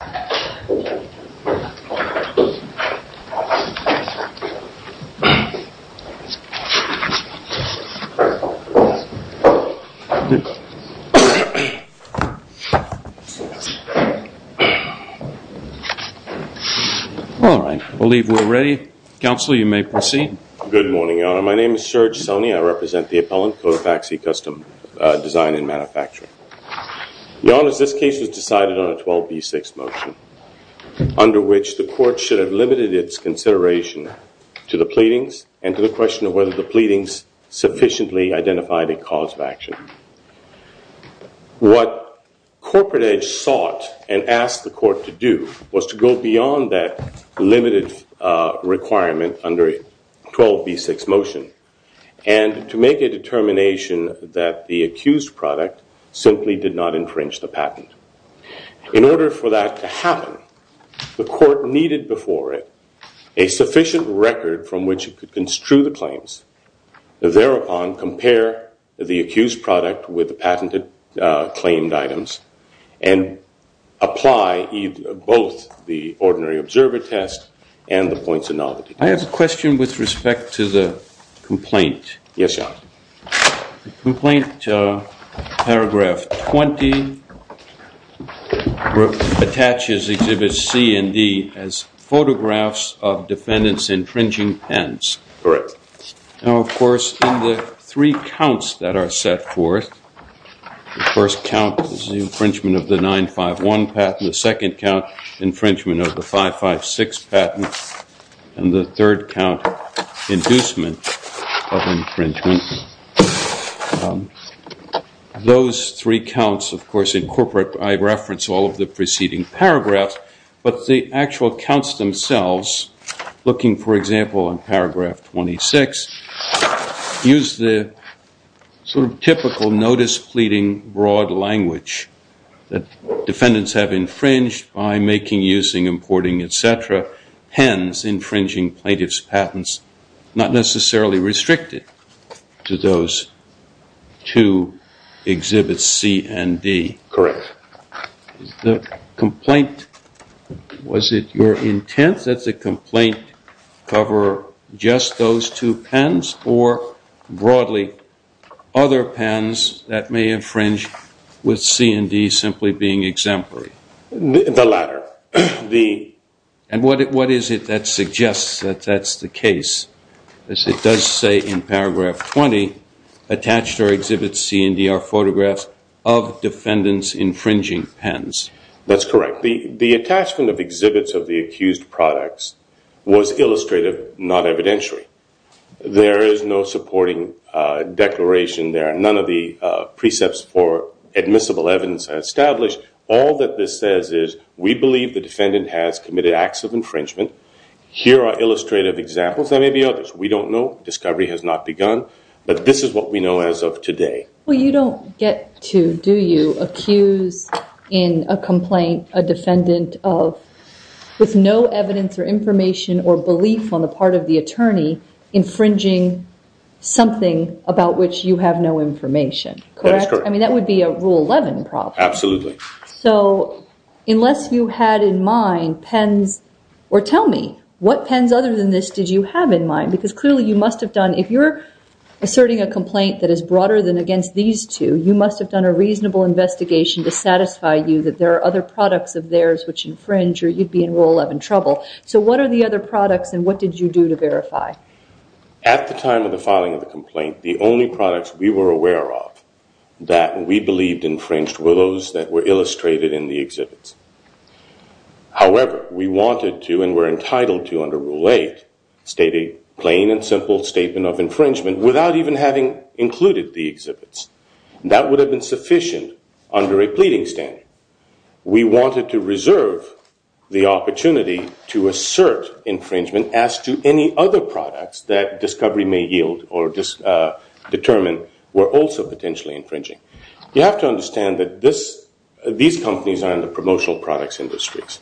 All right, I believe we're ready. Counsel, you may proceed. Good morning, Your Honor. My name is Serge Soni. I represent the appellant, Cotappaxi Custom Design and Manufacturing. Your Honor, this case was decided on a 12b6 motion under which the court should have limited its consideration to the pleadings and to the question of whether the pleadings sufficiently identified a cause of action. What Corporate Edge sought and asked the court to do was to go beyond that limited requirement under a 12b6 motion and to make a determination that the accused product simply did not infringe the patent. In order for that to happen, the court needed before it a sufficient record from which it could construe the claims. Thereupon, compare the accused product with the patented claimed items and apply both the ordinary observer test and the points of novelty test. I have a question with respect to the complaint. Yes, Your Honor. The complaint, paragraph 20, attaches Exhibits C and D as photographs of defendants' infringing patents. Correct. Now, of course, in the three counts that are set forth, the first count is the infringement of the 951 patent, the second count infringement of the 556 patent, and the third count inducement of infringement. Those three counts, of course, incorporate, I reference all of the preceding paragraphs, but the actual counts themselves, looking, for example, in paragraph 26, use the sort of typical notice pleading broad language that defendants have infringed by making, using, importing, et cetera, hence infringing plaintiff's patents, not necessarily restricted to those two Exhibits C and D. Correct. The complaint, was it your intent that the complaint cover just those two pens or, broadly, other pens that may infringe with C and D simply being exemplary? The latter. And what is it that suggests that that's the case? It does say in paragraph 20, attached are Exhibits C and D are photographs of defendants' infringing pens. That's correct. The attachment of exhibits of the accused products was illustrative, not evidentiary. There is no supporting declaration there. None of the precepts for admissible evidence are established. All that this says is we believe the defendant has committed acts of infringement. Here are illustrative examples. There may be others. We don't know. Discovery has not begun. But this is what we know as of today. Well, you don't get to, do you, accuse in a complaint a defendant of, with no evidence or information or belief on the part of the attorney, infringing something about which you have no information. Correct? That is correct. I mean, that would be a Rule 11 problem. Absolutely. So, unless you had in mind pens, or tell me, what pens other than this did you have in mind? Because, clearly, you must have done, if you're asserting a complaint that is broader than against these two, you must have done a reasonable investigation to satisfy you that there are other products of theirs which infringe or you'd be in Rule 11 trouble. So, what are the other products and what did you do to verify? At the time of the filing of the complaint, the only products we were aware of that we believed infringed were those that were illustrated in the exhibits. However, we wanted to and were entitled to, under Rule 8, state a plain and simple statement of infringement without even having included the exhibits. That would have been sufficient under a pleading standard. We wanted to reserve the opportunity to assert infringement as to any other products that discovery may yield or determine were also potentially infringing. You have to understand that these companies are in the promotional products industries.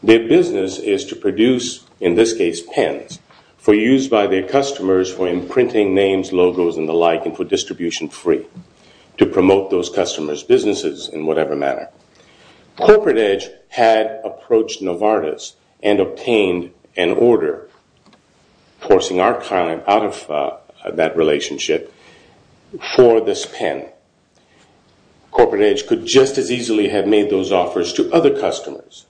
Their business is to produce, in this case, pens for use by their customers for imprinting names, logos, and the like and for distribution free to promote those customers' businesses in whatever manner. Corporate Edge had approached Novartis and obtained an order, forcing our client out of that relationship, for this pen. Corporate Edge could just as easily have made those offers to other customers.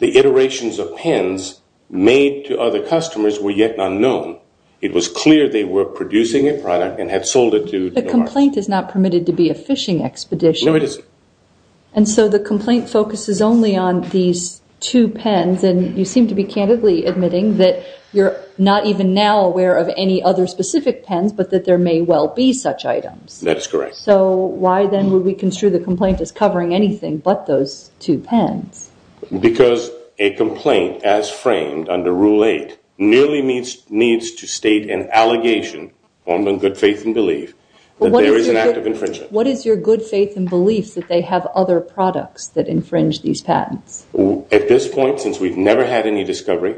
The iterations of pens made to other customers were yet unknown. It was clear they were producing a product and had sold it to Novartis. The complaint is not permitted to be a fishing expedition. No, it isn't. And so the complaint focuses only on these two pens and you seem to be candidly admitting that you're not even now aware of any other specific pens, but that there may well be such items. That is correct. So why then would we construe the complaint as covering anything but those two pens? Because a complaint as framed under Rule 8 merely needs to state an allegation on the good faith and belief that there is an act of infringement. What is your good faith and belief that they have other products that infringe these patents? At this point, since we've never had any discovery,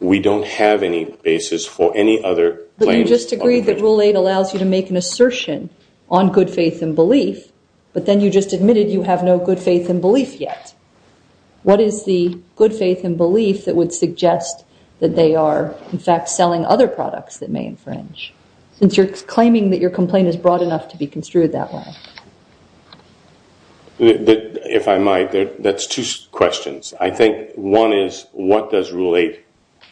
we don't have any basis for any other claims on infringement. So you think that Rule 8 allows you to make an assertion on good faith and belief, but then you just admitted you have no good faith and belief yet. What is the good faith and belief that would suggest that they are, in fact, selling other products that may infringe? Since you're claiming that your complaint is broad enough to be construed that way. If I might, that's two questions. I think one is what does Rule 8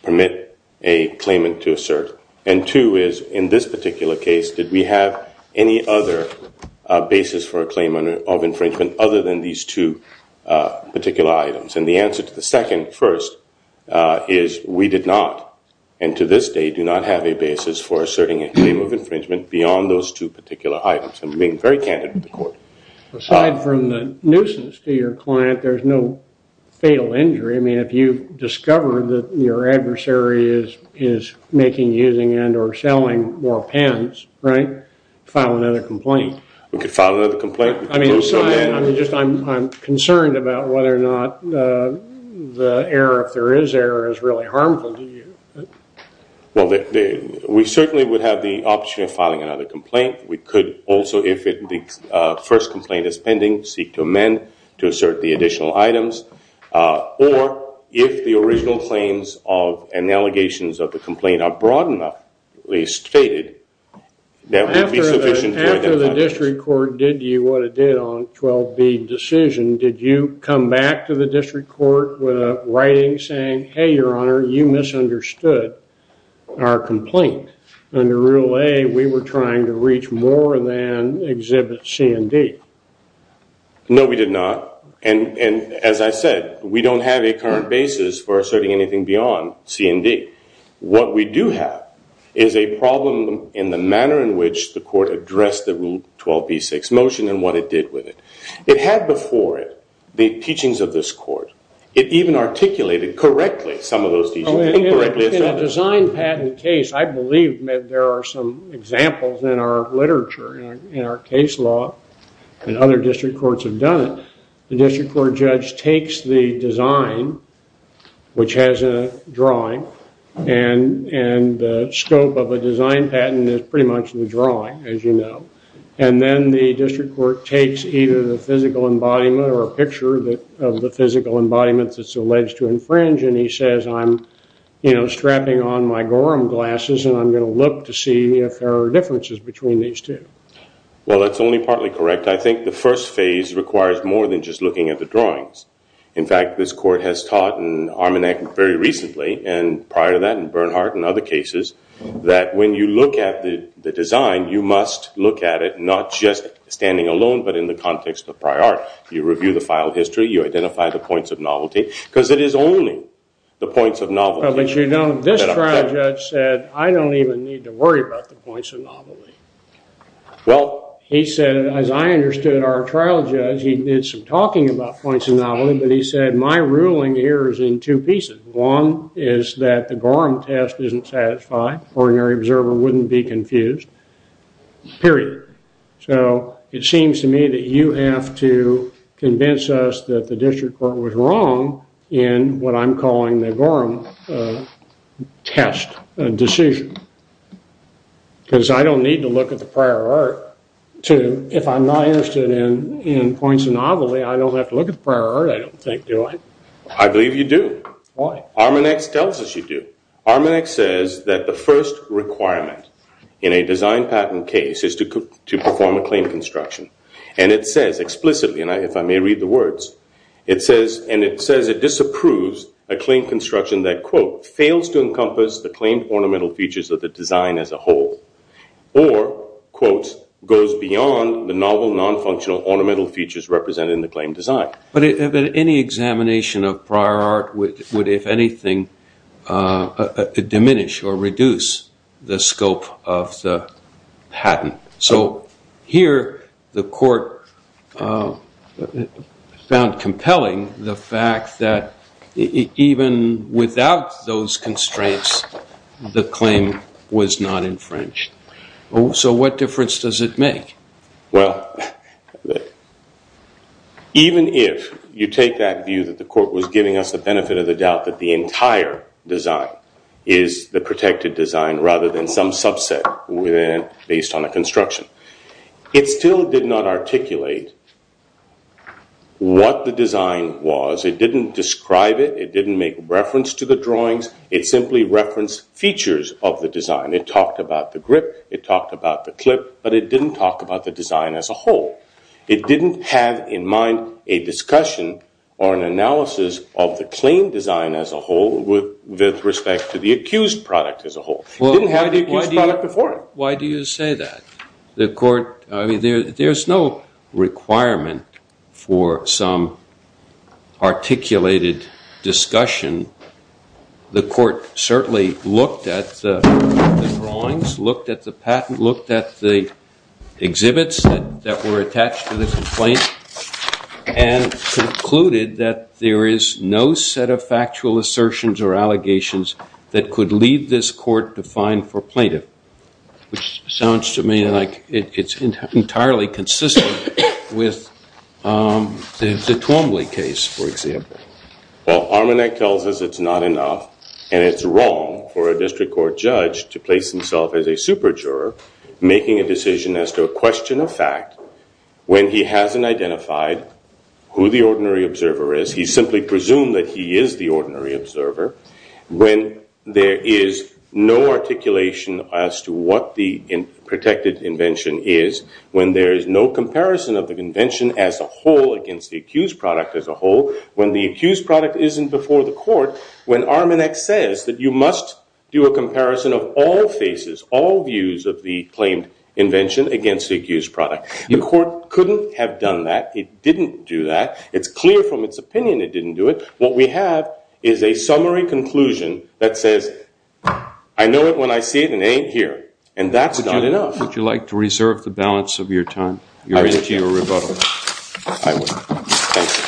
permit a claimant to assert? And two is, in this particular case, did we have any other basis for a claim of infringement other than these two particular items? And the answer to the second, first, is we did not, and to this day, do not have a basis for asserting a claim of infringement beyond those two particular items. I'm being very candid with the court. Aside from the nuisance to your client, there's no fatal injury. I mean, if you discover that your adversary is making, using, and or selling more pens, right, file another complaint. We could file another complaint. I mean, I'm concerned about whether or not the error, if there is error, is really harmful to you. We certainly would have the option of filing another complaint. We could also, if the first complaint is pending, seek to amend to assert the additional items. Or if the original claims of and allegations of the complaint are broad enough, at least stated, that would be sufficient for them to pass. After the district court did to you what it did on 12B decision, did you come back to the district court with a writing saying, hey, your honor, you misunderstood our complaint? Under Rule 8, we were trying to reach more than Exhibit C and D. No, we did not. And as I said, we don't have a current basis for asserting anything beyond C and D. What we do have is a problem in the manner in which the court addressed the Rule 12B6 motion and what it did with it. It had before it the teachings of this court. It even articulated correctly some of those teachings. In a design patent case, I believe there are some examples in our literature, in our case law, and other district courts have done it. The district court judge takes the design, which has a drawing, and the scope of a design patent is pretty much the drawing, as you know. And then the district court takes either the physical embodiment or a picture of the physical embodiment that's alleged to infringe, and he says, I'm strapping on my Gorham glasses and I'm going to look to see if there are differences between these two. Well, that's only partly correct. I think the first phase requires more than just looking at the drawings. In fact, this court has taught in Armenech very recently, and prior to that in Bernhardt and other cases, that when you look at the design, you must look at it not just standing alone, but in the context of prior art. You review the file history, you identify the points of novelty, because it is only the points of novelty that I'm talking about. Well, as you know, this trial judge said, I don't even need to worry about the points of novelty. Well, he said, as I understood our trial judge, he did some talking about points of novelty, but he said, my ruling here is in two pieces. One is that the Gorham test isn't satisfied. An ordinary observer wouldn't be confused, period. So it seems to me that you have to convince us that the district court was wrong in what I'm calling the Gorham test decision. Because I don't need to look at the prior art to, if I'm not interested in points of novelty, I don't have to look at the prior art, I don't think, do I? I believe you do. Why? Armenech tells us you do. Armenech says that the first requirement in a design patent case is to perform a claim construction. And it says explicitly, and if I may read the words, it says, and it says it disapproves a claim construction that, quote, fails to encompass the claimed ornamental features of the design as a whole. Or, quote, goes beyond the novel non-functional ornamental features represented in the claim design. But any examination of prior art would, if anything, diminish or reduce the scope of compelling the fact that even without those constraints, the claim was not infringed. So what difference does it make? Well, even if you take that view that the court was giving us the benefit of the doubt that the entire design is the protected design rather than some subset based on a construction, it still did not articulate what the design was. It didn't describe it. It didn't make reference to the drawings. It simply referenced features of the design. It talked about the grip. It talked about the clip. But it didn't talk about the design as a whole. It didn't have in mind a discussion or an analysis of the claim design as a whole with respect to the accused product as a whole. It didn't have the accused product before it. The court, I mean, there's no requirement for some articulated discussion. The court certainly looked at the drawings, looked at the patent, looked at the exhibits that were attached to the complaint, and concluded that there is no set of factual assertions or allegations that could leave this court defined for plaintiff, which sounds to me like it's entirely consistent with the Twombly case, for example. Well, Armanek tells us it's not enough and it's wrong for a district court judge to place himself as a super-juror making a decision as to a question of fact when he hasn't identified who the ordinary observer is. He simply presumed that he is the ordinary observer when there is no articulation as to what the protected invention is, when there is no comparison of the invention as a whole against the accused product as a whole, when the accused product isn't before the court, when Armanek says that you must do a comparison of all faces, all views of the claimed invention against the accused product. The court couldn't have done that. It didn't do that. It's clear from its opinion it didn't do it. What we have is a summary conclusion that says, I know it when I see it and it ain't here. And that's not enough. Would you like to reserve the balance of your time? You're into your rebuttal. I would. Thank you.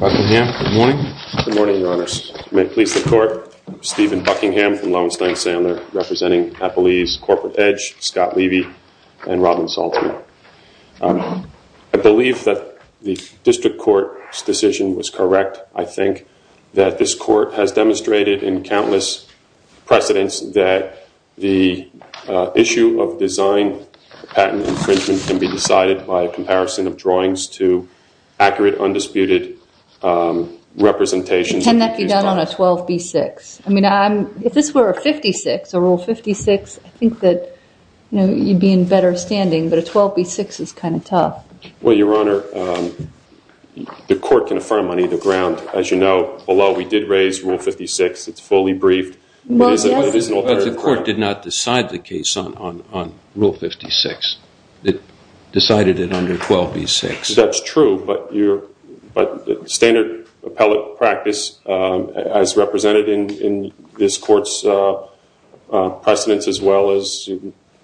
Buckingham, good morning. Good morning, Your Honors. May it please the court, Stephen Buckingham from Lowenstein-Sandler representing Applebee's Corporate Edge, Scott Levy, and Robin Salter. I believe that the district court's decision was correct. I think that this court has demonstrated in countless precedents that the issue of design patent infringement can be decided by a comparison of drawings to accurate, undisputed representations of the accused product. Can that be done on a 12B6? I mean, if this were a 56, a Rule 56, I think that you'd be in better standing. But a 12B6 is kind of tough. Well, Your Honor, the court can affirm on either ground. As you know, although we did raise Rule 56, it's fully briefed. But the court did not decide the case on Rule 56. It decided it under 12B6. That's true, but standard appellate practice, as represented in this court's precedents as well as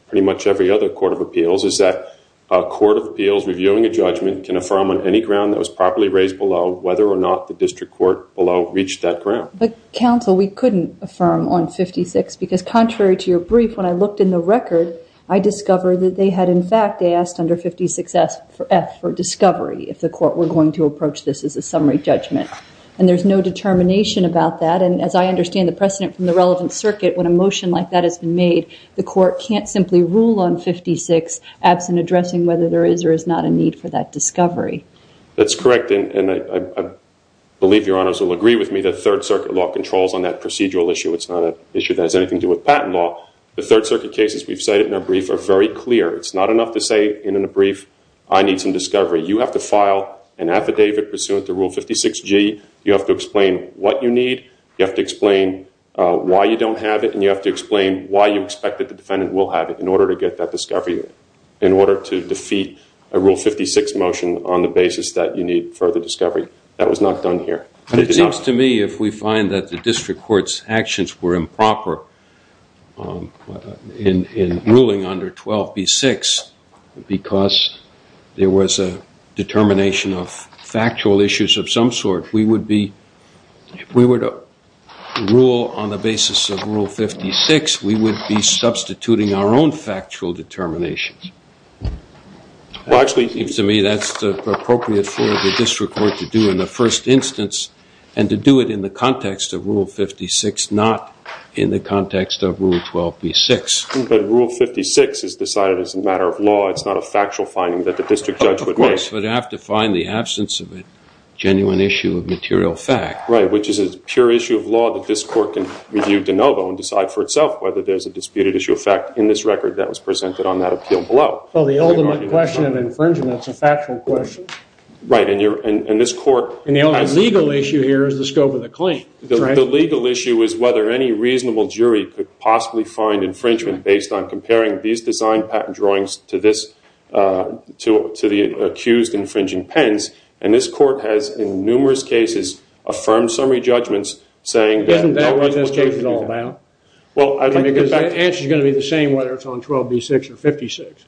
pretty much every other court of appeals, is that a court of appeals reviewing a judgment can affirm on any ground that was properly raised below whether or not the district court below reached that ground. But counsel, we couldn't affirm on 56, because contrary to your brief, when I looked in the record, I discovered that they had in fact asked under 56F for discovery, if the court were going to approach this as a summary judgment. And there's no determination about that. And as I understand the precedent from the relevant circuit, when a motion like that has been made, the court can't simply rule on 56 absent addressing whether there is or is not a need for that discovery. That's correct. And I believe Your Honors will agree with me that Third Circuit law controls on that procedural issue. It's not an issue that has anything to do with patent law. The Third Circuit cases we've cited in our brief are very clear. It's not enough to say in a brief, I need some discovery. You have to file an affidavit pursuant to Rule 56G. You have to explain what you need. You have to explain why you don't have it. And you have to explain why you expect that the defendant will have it in order to get further discovery. That was not done here. But it seems to me if we find that the district court's actions were improper in ruling under 12B6, because there was a determination of factual issues of some sort, we would be, if we were to rule on the basis of Rule 56, we would be substituting our own factual determinations. It seems to me that's appropriate for the district court to do in the first instance and to do it in the context of Rule 56, not in the context of Rule 12B6. But Rule 56 is decided as a matter of law. It's not a factual finding that the district judge would make. Of course, but you have to find the absence of a genuine issue of material fact. Right, which is a pure issue of law that this court can review de novo and decide for itself whether there's a disputed issue of fact in this record that was presented on that appeal below. Well, the ultimate question of infringement is a factual question. Right, and this court... And the only legal issue here is the scope of the claim. The legal issue is whether any reasonable jury could possibly find infringement based on comparing these design patent drawings to the accused infringing pens. And this court has, in numerous cases, affirmed summary judgments saying... Isn't that what this case is all about? Because the answer is going to be the same whether it's on 12B6 or 56.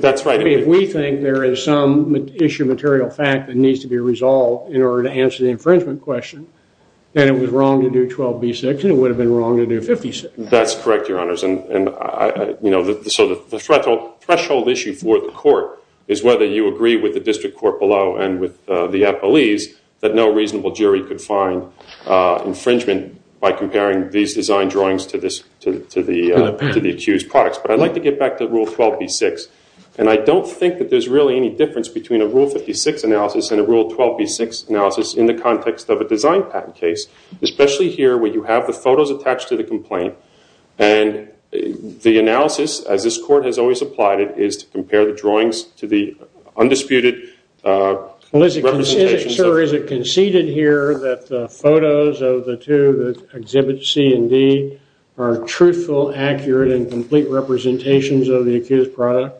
That's right. If we think there is some issue of material fact that needs to be resolved in order to answer the infringement question, then it was wrong to do 12B6 and it would have been wrong to do 56. That's correct, Your Honors. And so the threshold issue for the court is whether you agree with the district court below and with the appellees that no reasonable jury could find infringement by comparing these design drawings to the accused products. But I'd like to get back to Rule 12B6. And I don't think that there's really any difference between a Rule 56 analysis and a Rule 12B6 analysis in the context of a design patent case, especially here where you have the photos attached to the complaint. And the analysis, as this court has always applied it, is to compare the drawings to the undisputed representations... of the two exhibits, C and D, are truthful, accurate, and complete representations of the accused product?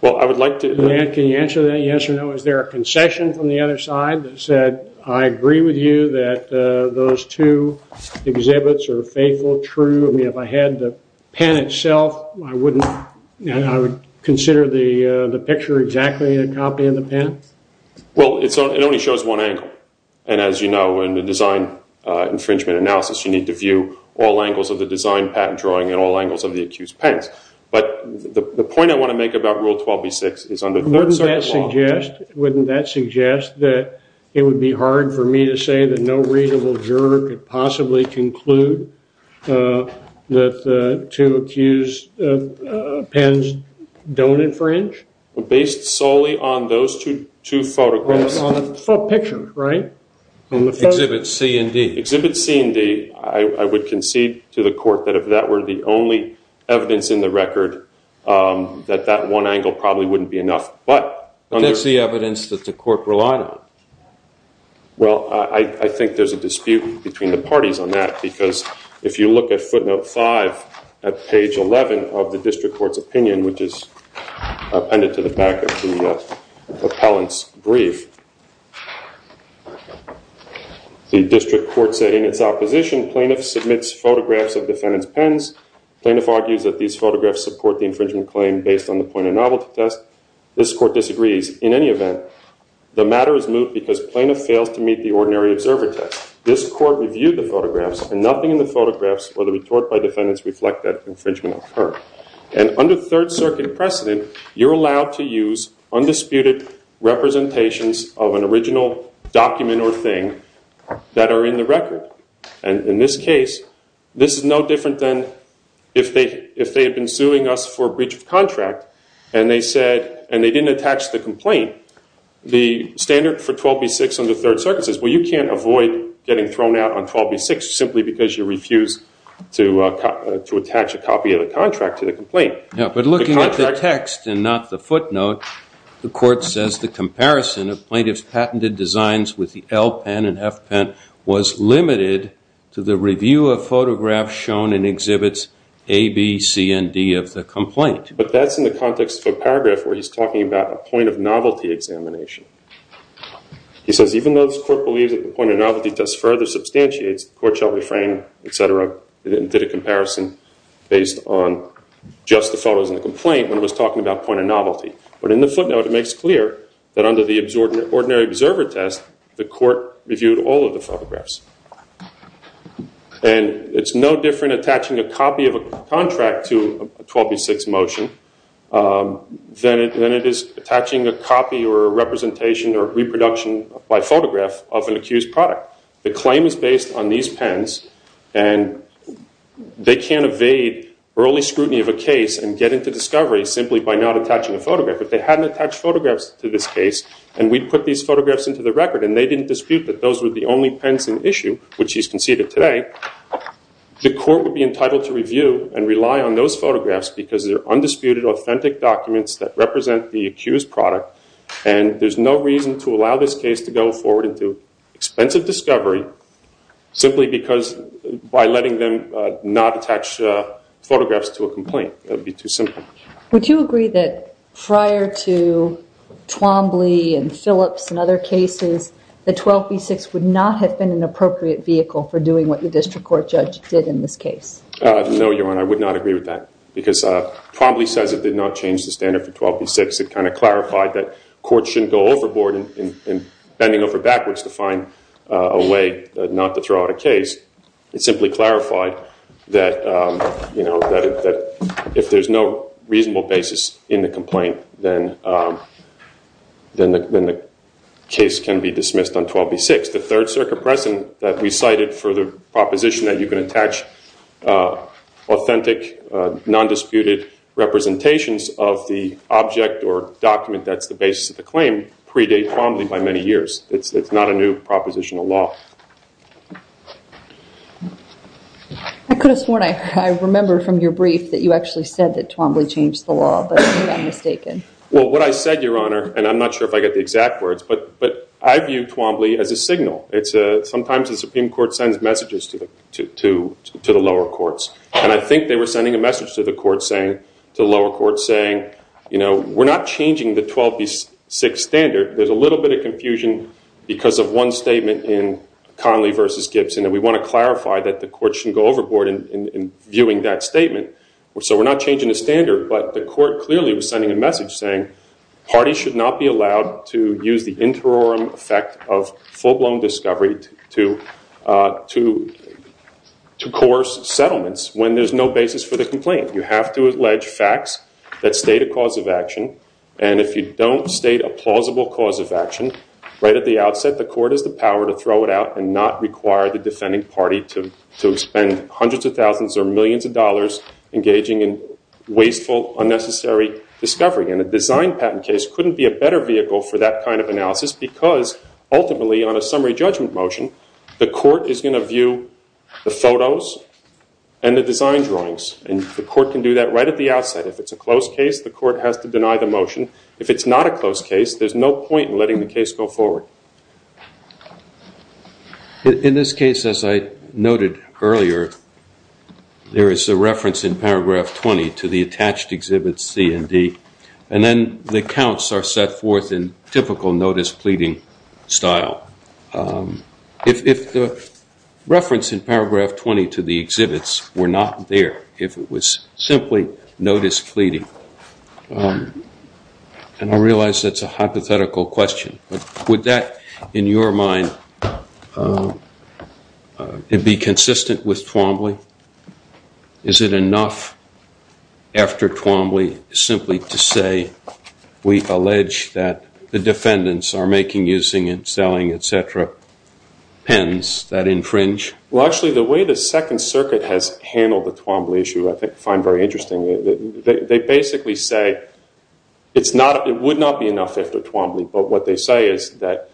Well, I would like to... Grant, can you answer that? Yes or no? Is there a concession from the other side that said, I agree with you that those two exhibits are faithful, true? I mean, if I had the pen itself, I wouldn't... I would consider the picture exactly a copy of the pen? Well, it only shows one angle. And as you know, in the design infringement analysis, you need to view all angles of the design patent drawing and all angles of the accused pens. But the point I want to make about Rule 12B6 is... Wouldn't that suggest that it would be hard for me to say that no readable juror could possibly conclude that the two accused pens don't infringe? Based solely on those two photographs? It's a picture, right? Exhibits C and D. Exhibits C and D, I would concede to the court that if that were the only evidence in the record, that that one angle probably wouldn't be enough. But that's the evidence that the court relied on. Well, I think there's a dispute between the parties on that because if you look at footnote 5 at page 11 of the district court's opinion, which is appended to the back of the appellant's brief, the district court said in its opposition, plaintiff submits photographs of defendant's pens. Plaintiff argues that these photographs support the infringement claim based on the point of novelty test. This court disagrees. In any event, the matter is moved because plaintiff fails to meet the ordinary observer test. This court reviewed the photographs and nothing in the photographs or the retort by defendants reflect that infringement occurred. And under Third Circuit precedent, you're allowed to use undisputed representations of an original document or thing that are in the record. And in this case, this is no different than if they had been suing us for breach of contract and they said, and they didn't attach the complaint, the standard for 12B6 under Third Circuit says, well, you can't avoid getting thrown out on 12B6 simply because you refused to attach a copy of the contract to the complaint. Yeah, but looking at the text and not the footnote, the court says the comparison of plaintiff's patented designs with the L pen and F pen was limited to the review of photographs shown in exhibits A, B, C, and D of the complaint. But that's in the context of a paragraph where he's talking about a point of novelty examination. He says, even though this court believes that the point of novelty test further substantiates, the court shall refrain, et cetera, and did a comparison based on just the photos in the complaint when it was talking about point of novelty. But in the footnote, it makes clear that under the ordinary observer test, the court reviewed all of the photographs. And it's no different attaching a copy of a contract to a 12B6 motion than it is attaching a copy or a representation or reproduction by photograph of an accused product. The claim is based on these pens. And they can't evade early scrutiny of a case and get into discovery simply by not attaching a photograph. If they hadn't attached photographs to this case and we'd put these photographs into the record and they didn't dispute that those were the only pens in issue, which he's conceded today, the court would be entitled to review and rely on those photographs because they're undisputed authentic documents that represent the accused product. And there's no reason to allow this case to go forward into expensive discovery simply because by letting them not attach photographs to a complaint. That would be too simple. Would you agree that prior to Twombly and Phillips and other cases, that 12B6 would not have been an appropriate vehicle for doing what the district court judge did in this case? No, Your Honor. I would not agree with that. Because Twombly says it did not change the standard for 12B6. It kind of clarified that courts shouldn't go overboard and bending over backwards to find a way not to throw out a case. It simply clarified that if there's no reasonable basis in the complaint, then the case can be dismissed on 12B6. The Third Circuit precedent that we cited for the proposition that you can attach authentic, non-disputed representations of the object or document that's the basis of the claim predate Twombly by many years. It's not a new propositional law. I could have sworn I remember from your brief that you actually said that Twombly changed the law, but I'm mistaken. Well, what I said, Your Honor, and I'm not sure if I get the exact words, but I view Twombly as a signal. Sometimes the Supreme Court sends messages to the lower courts. And I think they were sending a message to the lower courts saying, we're not changing the 12B6 standard. There's a little bit of confusion because of one statement in Conley v. Gibbs. And we want to clarify that the courts shouldn't go overboard in viewing that statement. So we're not changing the standard. But the court clearly was sending a message saying parties should not be allowed to use the interim effect of full-blown discovery to coerce settlements when there's no basis for the complaint. You have to allege facts that state a cause of action. And if you don't state a plausible cause of action, right at the outset, the court has the power to throw it out and not require the defending party to spend hundreds of thousands or millions of dollars engaging in wasteful, unnecessary discovery. And a design patent case couldn't be a better vehicle for that kind of analysis because ultimately, on a summary judgment motion, the court is going to view the photos and the design drawings. And the court can do that right at the outset. If it's a close case, the court has to deny the motion. If it's not a close case, there's no point in letting the case go forward. In this case, as I noted earlier, there is a reference in paragraph 20 to the attached exhibits C and D. And then the accounts are set forth in typical notice pleading style. If the reference in paragraph 20 to the exhibits were not there, if it was simply notice pleading, and I realize that's a hypothetical question, but would that, in your mind, be consistent with Twombly? Is it enough after Twombly simply to say we allege that the defendants are making, using, and selling, et cetera, pens that infringe? Well, actually, the way the Second Circuit has handled the Twombly issue I find very interesting. They basically say it would not be enough after Twombly, but what they say is that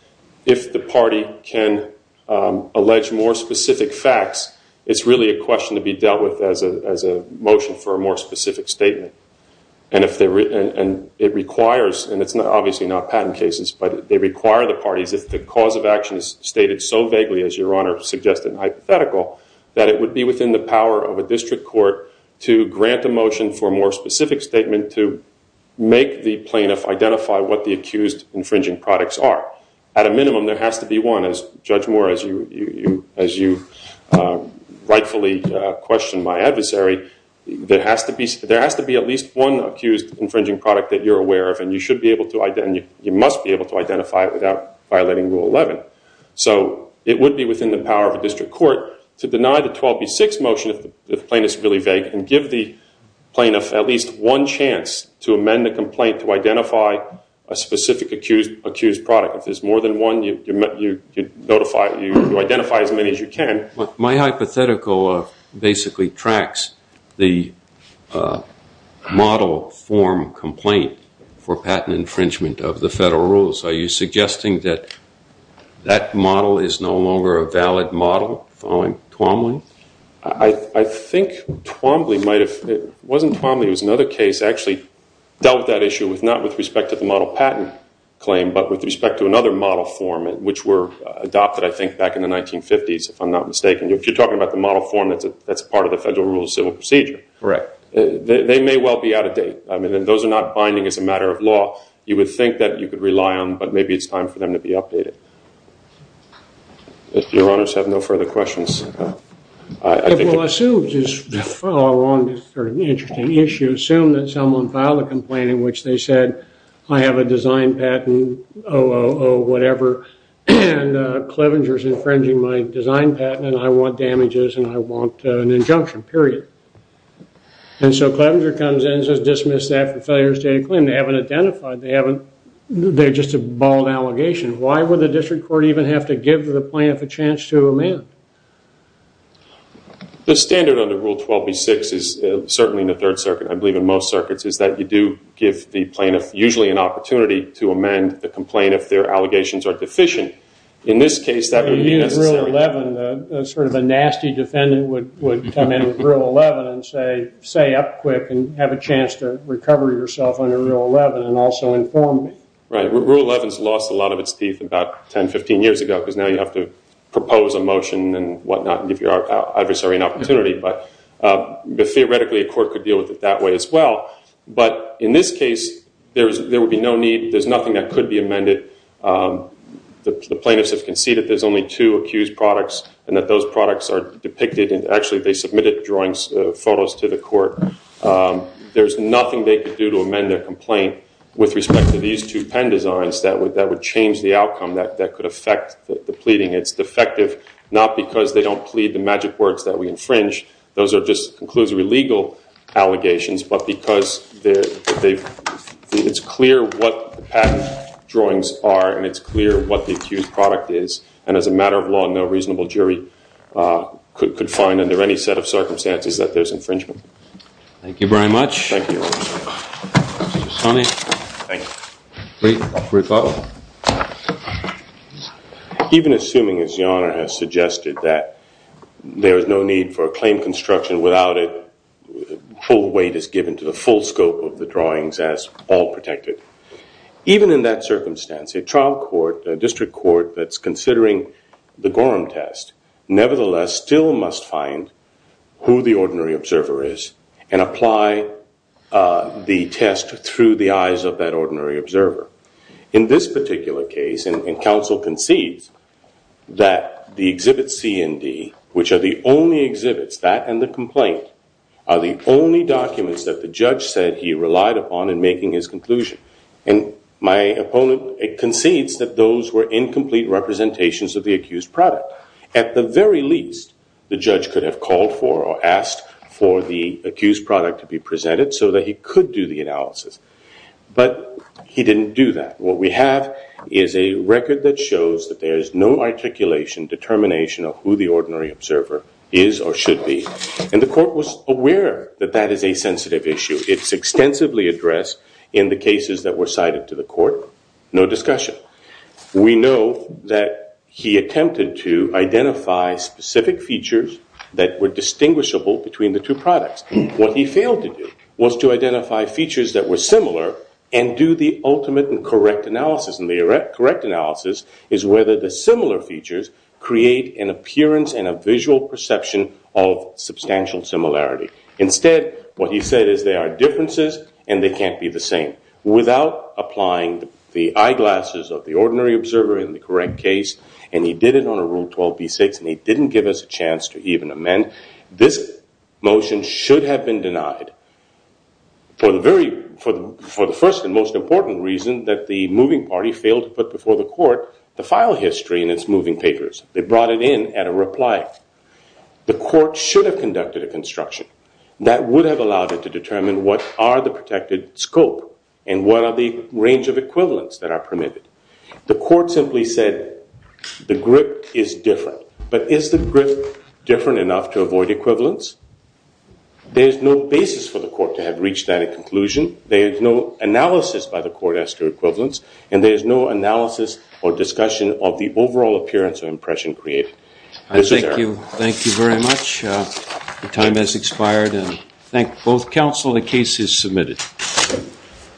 if the party can allege more specific facts, it's really a question to be dealt with as a motion for a more specific statement. And it requires, and it's obviously not patent cases, but they require the parties, if the cause of action is stated so vaguely as your Honor suggested, hypothetical, that it would be within the power of a district court to grant a motion for a more specific statement to make the plaintiff identify what the accused infringing products are. At a minimum, there has to be one. Judge Moore, as you rightfully questioned my adversary, there has to be at least one accused infringing product that you're aware of, and you must be able to identify it without violating Rule 11. So it would be within the power of a district court to deny the 12B6 motion, if the plaintiff is really vague, and give the plaintiff at least one chance to amend the complaint to identify as many as you can. My hypothetical basically tracks the model form complaint for patent infringement of the federal rules. Are you suggesting that that model is no longer a valid model following Twombly? I think Twombly might have, it wasn't Twombly, it was another case that actually dealt with that issue, not with respect to the model patent claim, but with respect to another model form, which were adopted, I think, back in the 1950s, if I'm not mistaken. If you're talking about the model form, that's part of the Federal Rules of Civil Procedure. Correct. They may well be out of date. I mean, those are not binding as a matter of law. You would think that you could rely on, but maybe it's time for them to be updated. If your honors have no further questions. I will assume, just to follow along this sort of interesting issue, assume that someone filed a complaint in which they said, I have a design patent, oh, oh, oh, whatever, and Clevenger's infringing my design patent, and I want damages, and I want an injunction, period. And so Clevenger comes in and says, dismiss that for failure of state of claim. They haven't identified, they haven't, they're just a bald allegation. Why would the district court even have to give the plaintiff a chance to amend? The standard under Rule 12b-6 is, certainly in the Third Circuit, I believe in most circuits, is that you do give the plaintiff, usually, an opportunity to amend the complaint if their allegations are deficient. In this case, that would be necessary. In Rule 11, sort of a nasty defendant would come in with Rule 11 and say, say up quick and have a chance to recover yourself under Rule 11, and also inform me. Right. Rule 11's lost a lot of its teeth about 10, 15 years ago, because now you have to propose a motion and whatnot, and give your adversary an opportunity. But theoretically, a court could deal with it that way as well. But in this case, there would be no need, there's nothing that could be amended. The plaintiffs have conceded there's only two accused products, and that those products are depicted, and actually they submitted drawings, photos to the court. There's nothing they could do to amend their complaint with respect to these two pen designs that would change the outcome that could affect the pleading. It's defective, not because they don't plead the magic words that we infringe. Those are just conclusory legal allegations, but because it's clear what the patent drawings are, and it's clear what the accused product is, and as a matter of law, no reasonable jury could find under any set of circumstances that there's infringement. Thank you very much. Thank you. Thank you. Great. Dr. Ricardo? Even assuming, as Your Honor has suggested, that there is no need for a claim construction without a full weight is given to the full scope of the drawings as all protected, even in that circumstance, a trial court, a district court, that's considering the Gorham test nevertheless still must find who the ordinary observer is, and apply the test through the eyes of that ordinary observer. In this particular case, and counsel concedes that the exhibit C and D, which are the only exhibits, that and the complaint, are the only documents that the judge said he relied upon in making his conclusion, and my opponent concedes that those were incomplete representations of the accused product. At the very least, the judge could have called for or asked for the accused product to be What we have is a record that shows that there is no articulation, determination of who the ordinary observer is or should be. And the court was aware that that is a sensitive issue. It's extensively addressed in the cases that were cited to the court. No discussion. We know that he attempted to identify specific features that were distinguishable between the two products. What he failed to do was to identify features that were similar and do the ultimate and correct analysis. And the correct analysis is whether the similar features create an appearance and a visual perception of substantial similarity. Instead, what he said is there are differences and they can't be the same. Without applying the eyeglasses of the ordinary observer in the correct case, and he did it and he didn't give us a chance to even amend. This motion should have been denied for the first and most important reason that the moving party failed to put before the court the file history in its moving papers. They brought it in at a reply. The court should have conducted a construction. That would have allowed it to determine what are the protected scope and what are the range of equivalents that are permitted. The court simply said the grip is different. But is the grip different enough to avoid equivalents? There is no basis for the court to have reached that conclusion. There is no analysis by the court as to equivalents. And there is no analysis or discussion of the overall appearance or impression created. Thank you very much. The time has expired. I thank both counsel. The case is submitted.